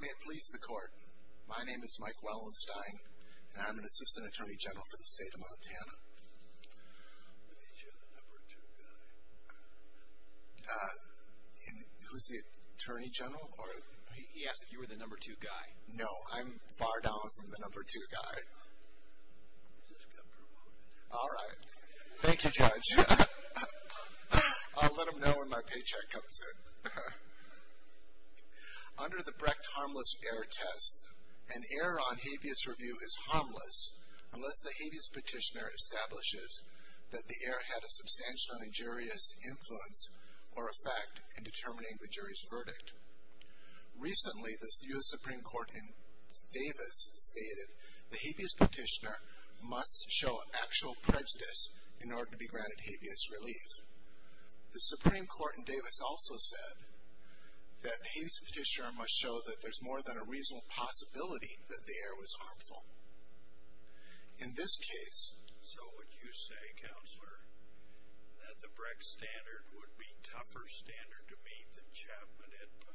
May it please the court, my name is Mike Wellenstein, and I'm an assistant attorney general for the state of Montana. I think you're the number two guy. Uh, who's the attorney general? He asked if you were the number two guy. No, I'm far down from the number two guy. You just got promoted. Alright, thank you judge. I'll let him know when my paycheck comes in. Under the Brecht Harmless Error Test, an error on habeas review is harmless unless the habeas petitioner establishes that the error had a substantial injurious influence or effect in determining the jury's verdict. Recently, the U.S. Supreme Court in Davis stated the habeas petitioner must show actual prejudice in order to be granted habeas relief. The Supreme Court in Davis also said that the habeas petitioner must show that there's more than a reasonable possibility that the error was harmful. In this case... So would you say, counselor, that the Brecht standard would be a tougher standard to meet than Chapman had put?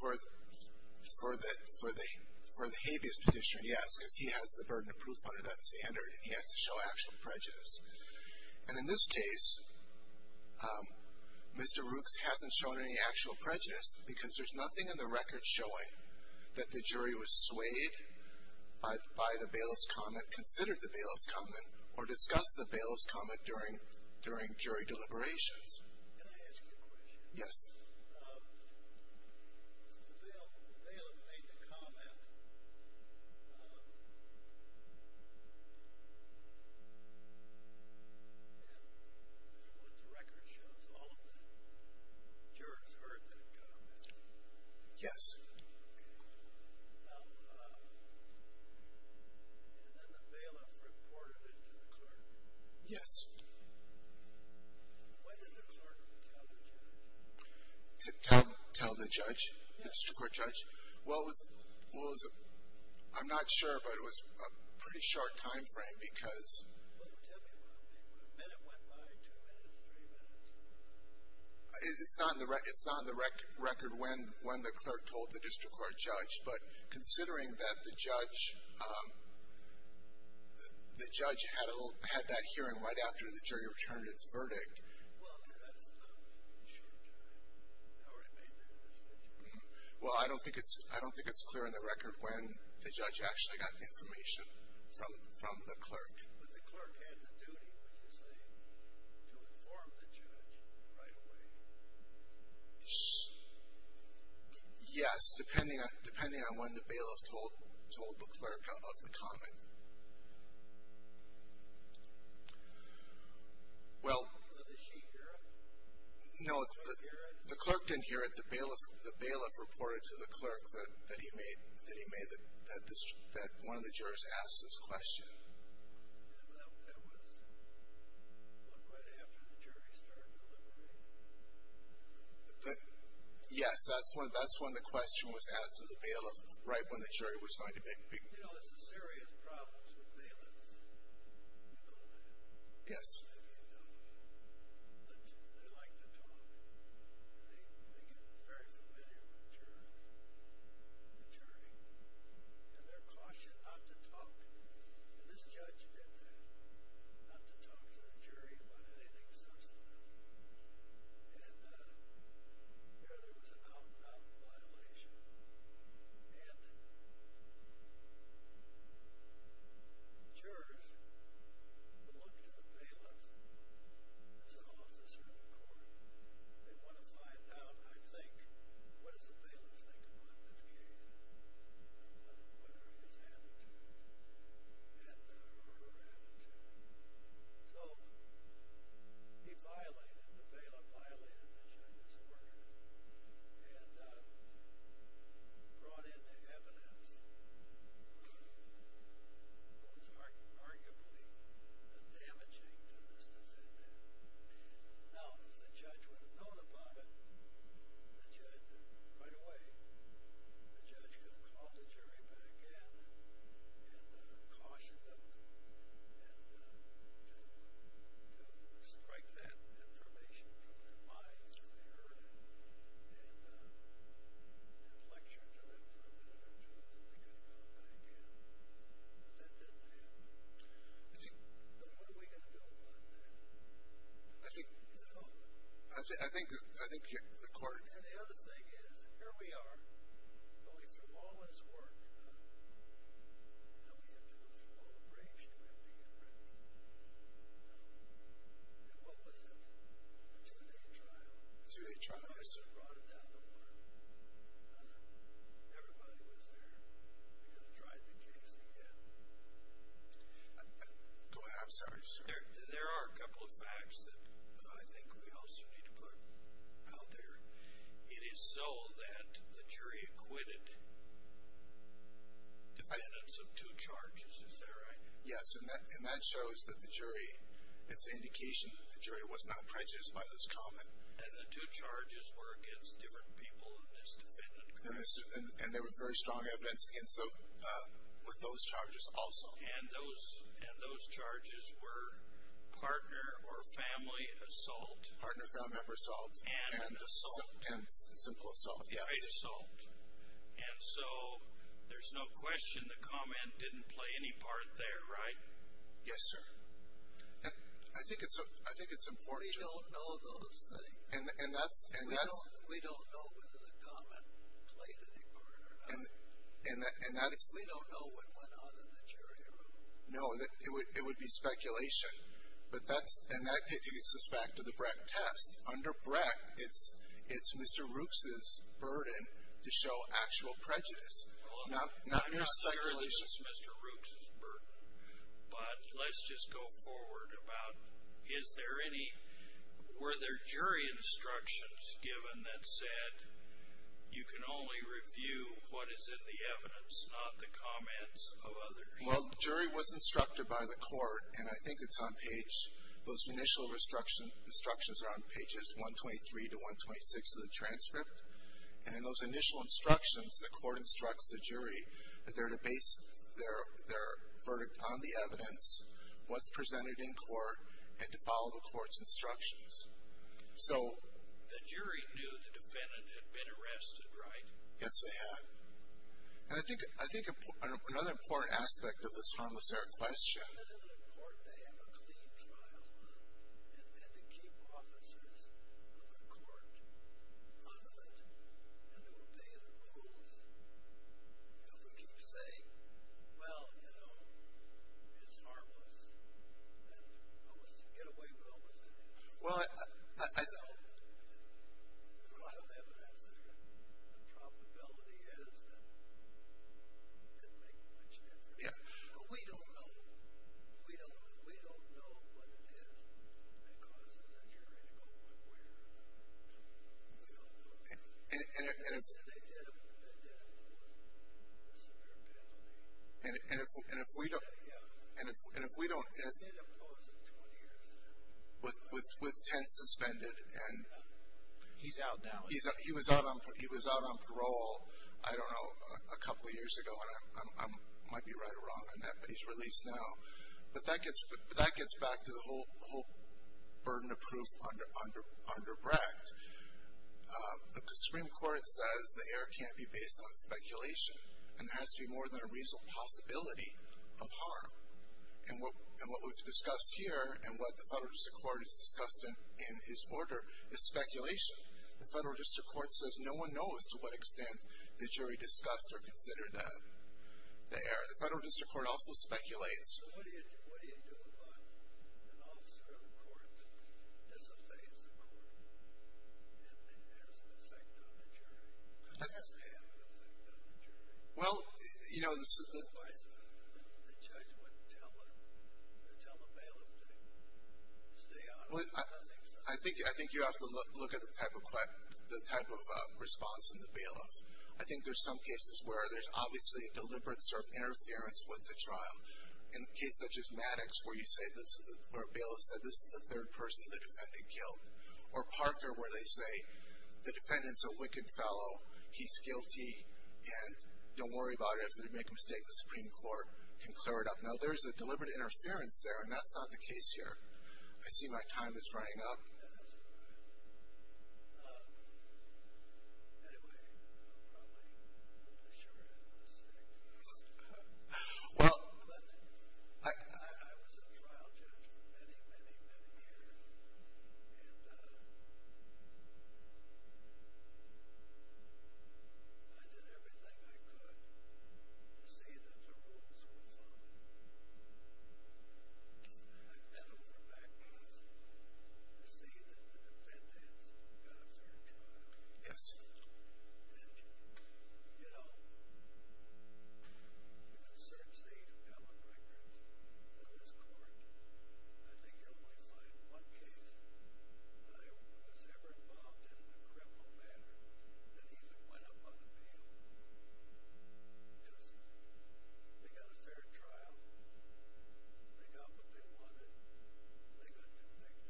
For the habeas petitioner, yes, because he has the burden of proof under that standard and he has to show actual prejudice. And in this case, Mr. Rooks hasn't shown any actual prejudice because there's nothing in the record showing that the jury was swayed by the bailiff's comment, considered the bailiff's comment, or discussed the bailiff's comment during jury deliberations. Can I ask you a question? Yes. The bailiff made the comment, and what the record shows, all of the jurors heard that comment. Yes. And then the bailiff reported it to the clerk. Yes. Why didn't the clerk tell the judge? Tell the judge, the district court judge? Well, it was, I'm not sure, but it was a pretty short time frame because... Well, tell me about it. A minute went by, two minutes, three minutes. It's not in the record when the clerk told the district court judge, but considering that the judge had that hearing right after the jury returned its verdict... Well, that's not an issue. They already made their decision. Well, I don't think it's clear in the record when the judge actually got the information from the clerk. But the clerk had the duty, would you say, to inform the judge right away? Yes, depending on when the bailiff told the clerk of the comment. Well... Did she hear it? No, the clerk didn't hear it. The bailiff reported to the clerk that one of the jurors asked this question. That was right after the jury started delivering. Yes, that's when the question was asked to the bailiff, right when the jury was going to make the decision. You know, there's serious problems with bailiffs. You know that. Yes. They like to talk. They get very familiar with the jurors and the jury and their caution not to talk. And this judge did that, not to talk to the jury about anything substantive. And there was an out-and-out violation. And jurors will look to the bailiff as an officer in the court. They want to find out, I think, what does the bailiff think about this case, and what are his attitudes, and her attitude. So he violated the bailiff, violated the judge's order, and brought in the evidence that was arguably damaging to this decision. Now, as the judge would have known upon it, right away the judge could have called the jury back in and cautioned them to strike that information from their minds if they heard it and lectured to them for a minute or two, and they could have gone back in. But that didn't happen. So what are we going to do about that? I think the court… And the other thing is, here we are, going through all this work, and we have to go through all the breaks you have to get ready for. And what was it, a two-day trial? A two-day trial, yes, sir. Brought it down to one. Everybody was there. We're going to try the case again. Go ahead. I'm sorry, sir. There are a couple of facts that I think we also need to put out there. It is so that the jury acquitted defendants of two charges. Is that right? Yes, and that shows that the jury, it's an indication that the jury was not prejudiced by this comment. And the two charges were against different people in this defendant group. And there was very strong evidence with those charges also. And those charges were partner or family assault. Partner or family member assault. And assault. And simple assault, yes. Right, assault. And so there's no question the comment didn't play any part there, right? Yes, sir. I think it's important to… We don't know those things. And that's… We don't know whether the comment played any part or not. We don't know what went on in the jury room. No, it would be speculation. And that takes us back to the Breck test. Under Breck, it's Mr. Rooks' burden to show actual prejudice, not speculation. I'm not sure it was Mr. Rooks' burden. But let's just go forward about, were there jury instructions given that said, you can only review what is in the evidence, not the comments of others? Well, the jury was instructed by the court, and I think it's on page… Those initial instructions are on pages 123 to 126 of the transcript. And in those initial instructions, the court instructs the jury that they're to base their verdict on the evidence, what's presented in court, and to follow the court's instructions. So… The jury knew the defendant had been arrested, right? Yes, they had. And I think another important aspect of this harmless error question… Isn't it important they have a clean trial? And to keep officers of the court honored and to obey the rules? If we keep saying, well, you know, it's harmless, and almost to get away with almost anything, there's a lot of evidence that the probability is that it didn't make much difference. But we don't know. We don't know what it is that causes a jury to go what way or not. We don't know that. And they did impose a severe penalty. And if we don't… They did impose it 20 years ago. With Tent suspended and… He's out now. He was out on parole, I don't know, a couple of years ago, and I might be right or wrong on that, but he's released now. But that gets back to the whole burden of proof under Brecht. The Supreme Court says the error can't be based on speculation, and there has to be more than a reasonable possibility of harm. And what we've discussed here and what the federal district court has discussed in his order is speculation. The federal district court says no one knows to what extent the jury discussed or considered the error. The federal district court also speculates. Well, what do you do about an officer of the court that disobeys the court and then has an effect on the jury? Because it has to have an effect on the jury. Well, you know… The judge wouldn't tell a bailiff to stay out of it. I think so. I think you have to look at the type of response in the bailiff. I think there's some cases where there's obviously a deliberate sort of case such as Maddox where a bailiff said, this is the third person the defendant killed, or Parker where they say the defendant's a wicked fellow, he's guilty, and don't worry about it. If they make a mistake, the Supreme Court can clear it up. Now, there's a deliberate interference there, and that's not the case here. I see my time is running up. Yes. Anyway, I'm probably short on a stick. Well, I was a trial judge for many, many, many years, and I did everything I could to see that the rules were followed. I've been over Maccas to see that the defendants got a fair trial. Yes. And, you know, you can search the appellate records of this court, and I think you'll only find one case that I was ever involved in in a criminal matter that even went up on appeal. Yes. They got a fair trial. They got what they wanted. They got convicted.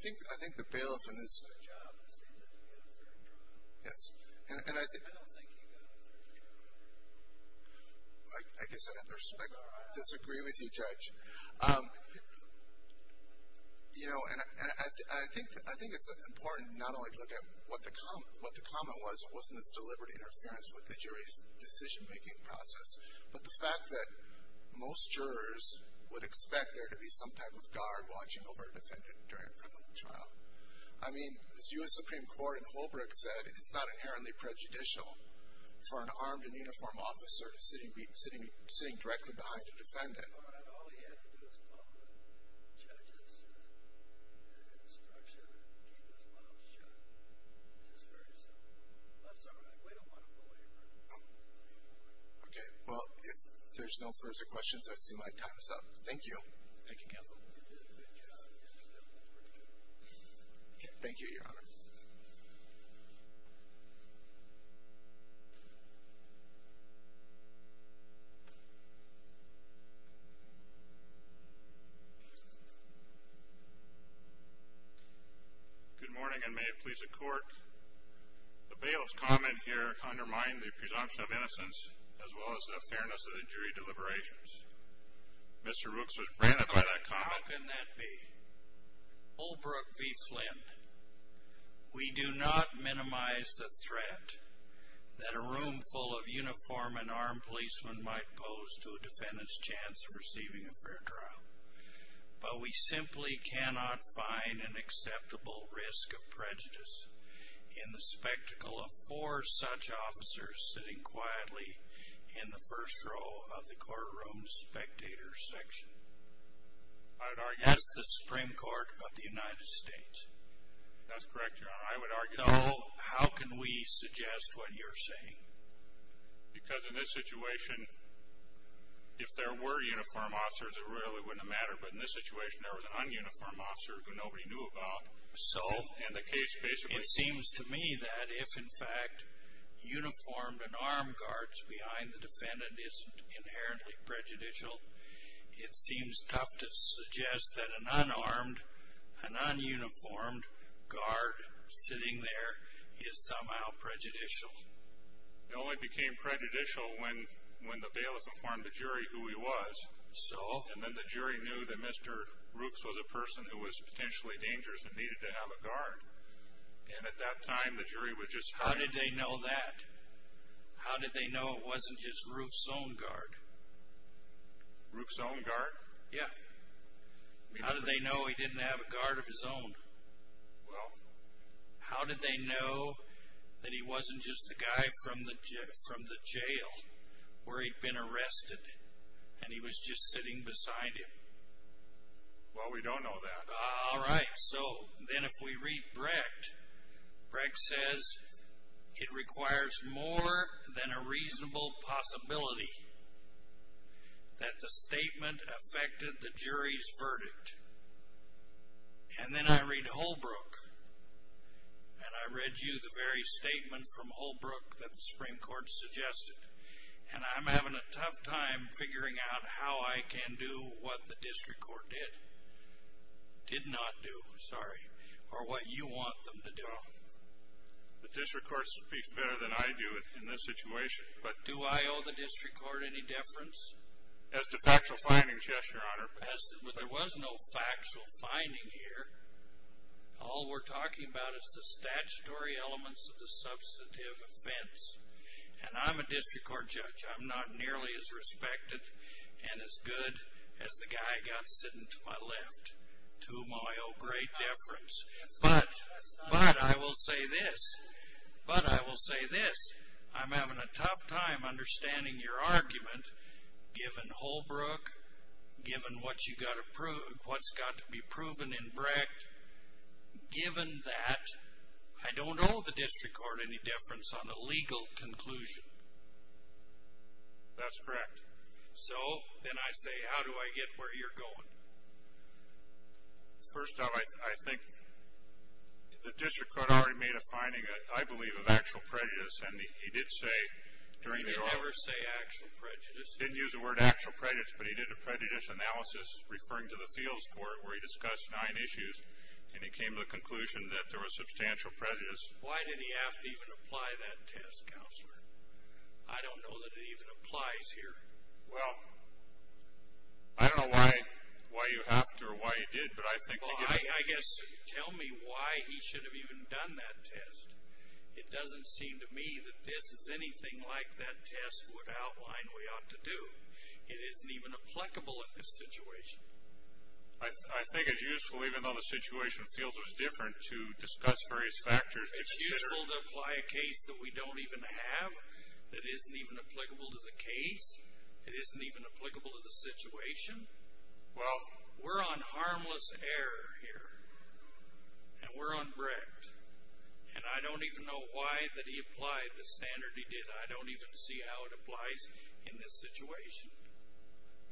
I think the bailiff in this case, yes. I don't think he got a fair trial. I guess I'd have to disagree with you, Judge. You know, and I think it's important not only to look at what the comment was. It wasn't this deliberate interference with the jury's decision-making process, but the fact that most jurors would expect there to be some type of guard watching over a defendant during a criminal trial. I mean, as U.S. Supreme Court in Holbrook said, it's not inherently prejudicial for an armed and uniformed officer to be sitting directly behind a defendant. All he had to do was follow the judge's instruction and keep his mouth shut. It's just very simple. That's all right. We don't want to belabor it. Okay. Well, if there's no further questions, I assume my time is up. Thank you. Thank you, Counsel. You did a good job. You understand what we're doing. Thank you, Your Honor. Thank you. Good morning, and may it please the Court, the bailiff's comment here undermined the presumption of innocence as well as the fairness of the jury deliberations. Mr. Rooks was branded by that comment. Holbrook v. Flynn, we do not minimize the threat that a room full of uniformed and armed policemen might pose to a defendant's chance of receiving a fair trial, but we simply cannot find an acceptable risk of prejudice in the spectacle of four such officers sitting quietly in the first row of the courtroom's spectator section. I would argue. That's the Supreme Court of the United States. That's correct, Your Honor. I would argue. So how can we suggest what you're saying? Because in this situation, if there were uniformed officers, it really wouldn't have mattered. But in this situation, there was an ununiformed officer who nobody knew about. So? And the case basically. It seems to me that if, in fact, uniformed and armed guards behind the defendant isn't inherently prejudicial, it seems tough to suggest that an unarmed, a nonuniformed guard sitting there is somehow prejudicial. It only became prejudicial when the bailiff informed the jury who he was. So? And then the jury knew that Mr. Rooks was a person who was potentially dangerous and needed to have a guard. And at that time, the jury was just... How did they know that? How did they know it wasn't just Rooks's own guard? Rooks's own guard? Yeah. How did they know he didn't have a guard of his own? Well... How did they know that he wasn't just a guy from the jail where he'd been arrested and he was just sitting beside him? Well, we don't know that. All right. So then if we read Brecht, Brecht says it requires more than a reasonable possibility that the statement affected the jury's verdict. And then I read Holbrook, and I read you the very statement from Holbrook that the Supreme Court suggested. And I'm having a tough time figuring out how I can do what the district court did. Did not do, sorry. Or what you want them to do. The district court speaks better than I do in this situation. Do I owe the district court any deference? As to factual findings, yes, Your Honor. There was no factual finding here. All we're talking about is the statutory elements of the substantive offense. And I'm a district court judge. I'm not nearly as respected and as good as the guy got sitting to my left. To whom I owe great deference. But I will say this. But I will say this. I'm having a tough time understanding your argument given Holbrook, given what's got to be proven in Brecht, given that I don't owe the district court any deference on a legal conclusion. That's correct. So, then I say, how do I get where you're going? First off, I think the district court already made a finding, I believe, of actual prejudice. And he did say during the trial. He didn't ever say actual prejudice. He didn't use the word actual prejudice, but he did a prejudice analysis referring to the fields court where he discussed nine issues. And he came to the conclusion that there was substantial prejudice. Why did he have to even apply that test, Counselor? I don't know that it even applies here. Well, I don't know why you have to or why you did. But I think to get a feeling. Well, I guess tell me why he should have even done that test. It doesn't seem to me that this is anything like that test would outline we ought to do. It isn't even applicable in this situation. I think it's useful, even though the situation feels it's different, to discuss various factors. It's useful to apply a case that we don't even have that isn't even applicable to the case. It isn't even applicable to the situation. Well, we're on harmless error here. And we're on Brecht. And I don't even know why that he applied the standard he did. I don't even see how it applies in this situation.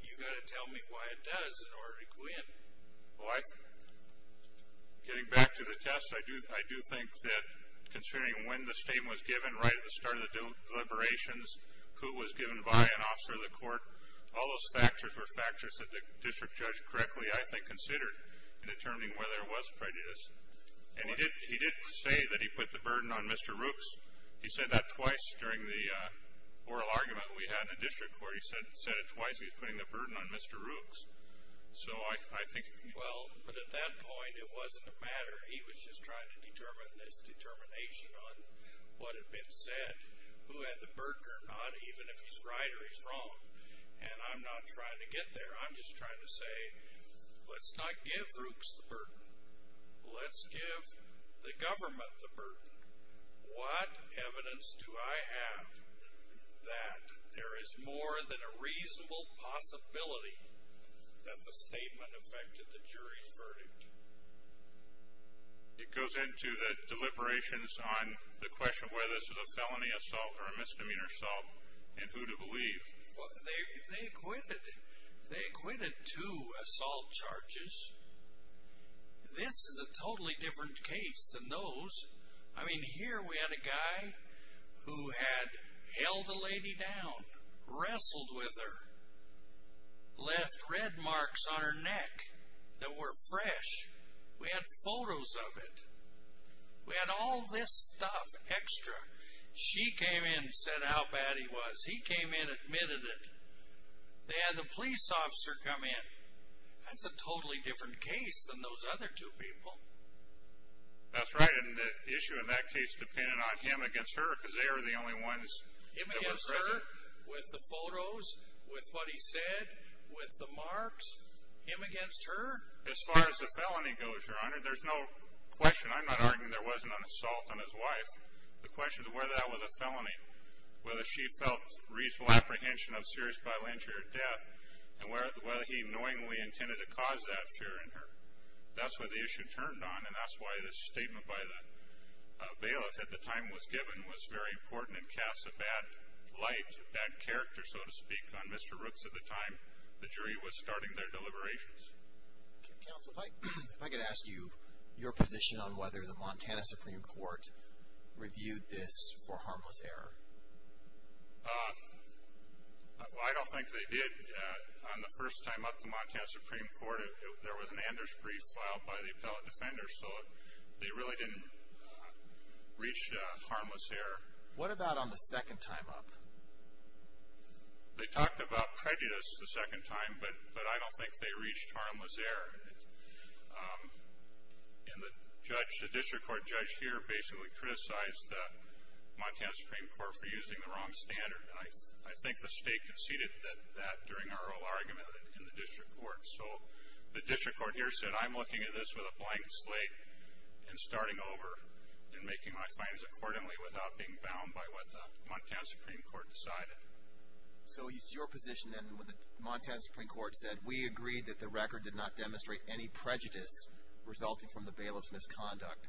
You've got to tell me why it does in order to go in. Well, getting back to the test, I do think that, considering when the statement was given right at the start of the deliberations, who was given by an officer of the court, all those factors were factors that the district judge correctly, I think, considered in determining whether there was prejudice. And he did say that he put the burden on Mr. Rooks. He said that twice during the oral argument we had in district court. He said it twice. He was putting the burden on Mr. Rooks. So I think he was. Well, but at that point it wasn't a matter. He was just trying to determine this determination on what had been said, who had the burden or not, even if he's right or he's wrong. And I'm not trying to get there. I'm just trying to say let's not give Rooks the burden. Let's give the government the burden. What evidence do I have that there is more than a reasonable possibility that the statement affected the jury's verdict? It goes into the deliberations on the question of whether this is a felony assault or a misdemeanor assault and who to believe. They acquitted two assault charges. This is a totally different case than those. I mean, here we had a guy who had held a lady down, wrestled with her, left red marks on her neck that were fresh. We had photos of it. We had all this stuff extra. She came in and said how bad he was. He came in, admitted it. They had the police officer come in. That's a totally different case than those other two people. That's right. And the issue in that case depended on him against her because they were the only ones that were present. Him against her with the photos, with what he said, with the marks? Him against her? As far as the felony goes, Your Honor, there's no question. I'm not arguing there wasn't an assault on his wife. The question is whether that was a felony, whether she felt reasonable apprehension of serious violent injury or death, and whether he knowingly intended to cause that fear in her. That's what the issue turned on, and that's why this statement by the bailiff at the time was given was very important and casts a bad light, a bad character, so to speak, on Mr. Rooks at the time. The jury was starting their deliberations. Counsel, if I could ask you your position on whether the Montana Supreme Court reviewed this for harmless error. I don't think they did. On the first time up to Montana Supreme Court, there was an Anders brief filed by the appellate defender, so they really didn't reach harmless error. What about on the second time up? They talked about prejudice the second time, but I don't think they reached harmless error. And the district court judge here basically criticized the Montana Supreme Court for using the wrong standard, and I think the state conceded that during our whole argument in the district court. So the district court here said, I'm looking at this with a blank slate and starting over and making my finds accordingly without being bound by what the Montana Supreme Court decided. So it's your position then when the Montana Supreme Court said, we agreed that the record did not demonstrate any prejudice resulting from the bailiff's misconduct,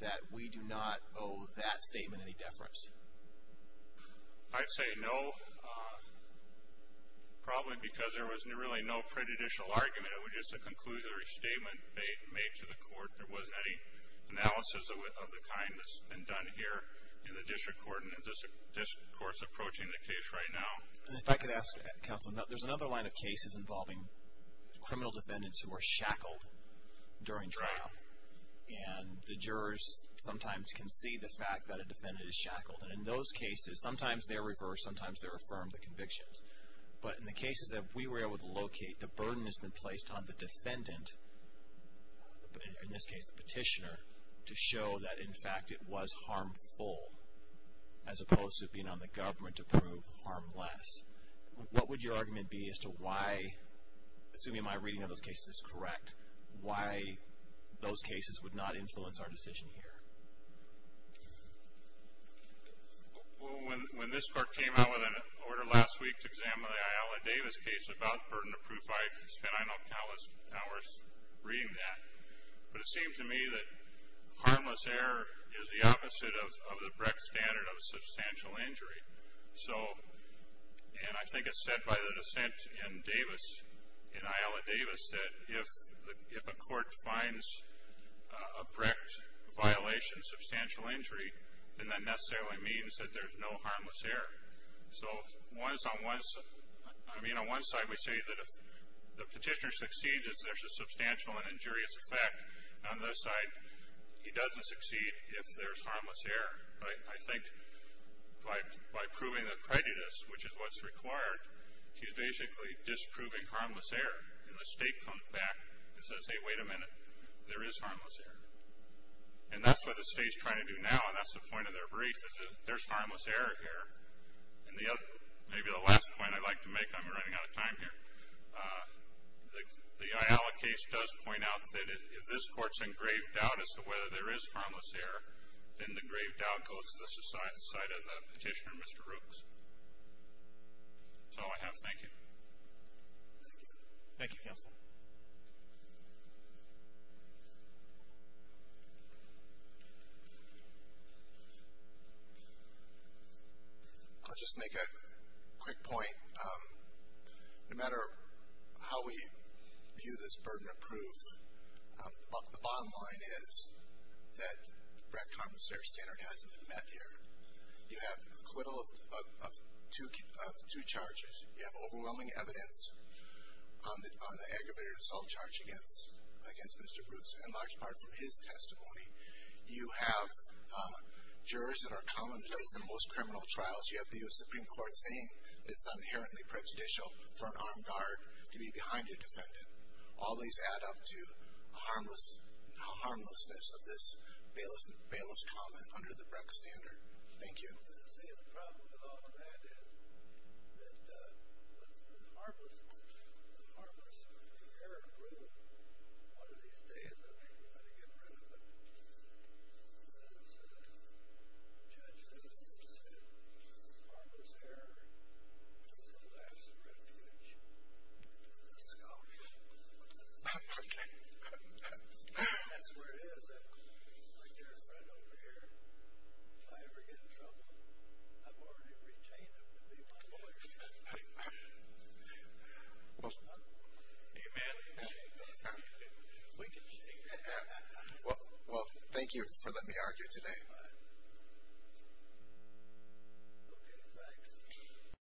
that we do not owe that statement any deference? I'd say no, probably because there was really no prejudicial argument. It was just a conclusory statement made to the court. There wasn't any analysis of the kind that's been done here in the district court and the district court's approaching the case right now. And if I could ask, Counsel, there's another line of cases involving criminal defendants who are shackled during trial. And the jurors sometimes can see the fact that a defendant is shackled. And in those cases, sometimes they're reversed, sometimes they're affirmed the convictions. But in the cases that we were able to locate, the burden has been placed on the defendant, in this case the petitioner, to show that, in fact, it was harmful, as opposed to being on the government to prove harmless. What would your argument be as to why, assuming my reading of those cases is correct, why those cases would not influence our decision here? Well, when this court came out with an order last week to examine the Ayala Davis case, about the burden of proof, I spent I know countless hours reading that. But it seemed to me that harmless error is the opposite of the Brecht standard of substantial injury. And I think it's said by the dissent in Davis, in Ayala Davis, that if a court finds a Brecht violation substantial injury, then that necessarily means that there's no harmless error. I mean, on one side we say that if the petitioner succeeds, there's a substantial and injurious effect. On the other side, he doesn't succeed if there's harmless error. I think by proving the creditors, which is what's required, he's basically disproving harmless error. And the state comes back and says, hey, wait a minute, there is harmless error. And that's what the state's trying to do now, and that's the point of their brief, is that there's harmless error here. And maybe the last point I'd like to make, I'm running out of time here. The Ayala case does point out that if this court's in grave doubt as to whether there is harmless error, then the grave doubt goes to the side of the petitioner, Mr. Rooks. That's all I have. Thank you. Thank you. Thank you, Counsel. I'll just make a quick point. No matter how we view this burden of proof, the bottom line is that Brett Carpenter's standard hasn't been met here. You have acquittal of two charges. You have overwhelming evidence on the aggravated assault charge against Mr. Brooks, in large part from his testimony. You have jurors that are commonplace in most criminal trials. You have the U.S. Supreme Court saying it's inherently prejudicial for an armed guard to be behind a defendant. All these add up to the harmlessness of this bailiff's comment under the Breck standard. Thank you. See, the problem with all of that is that with the harmlessness of the error rule, one of these days I think we're going to get rid of it. As the judge said, harmless error is the last refuge to the scoffer. Okay. That's where it is. I've got a friend over here. If I ever get in trouble, I've already retained him to be my lawyer. Amen. Well, thank you for letting me argue today. Okay, thanks.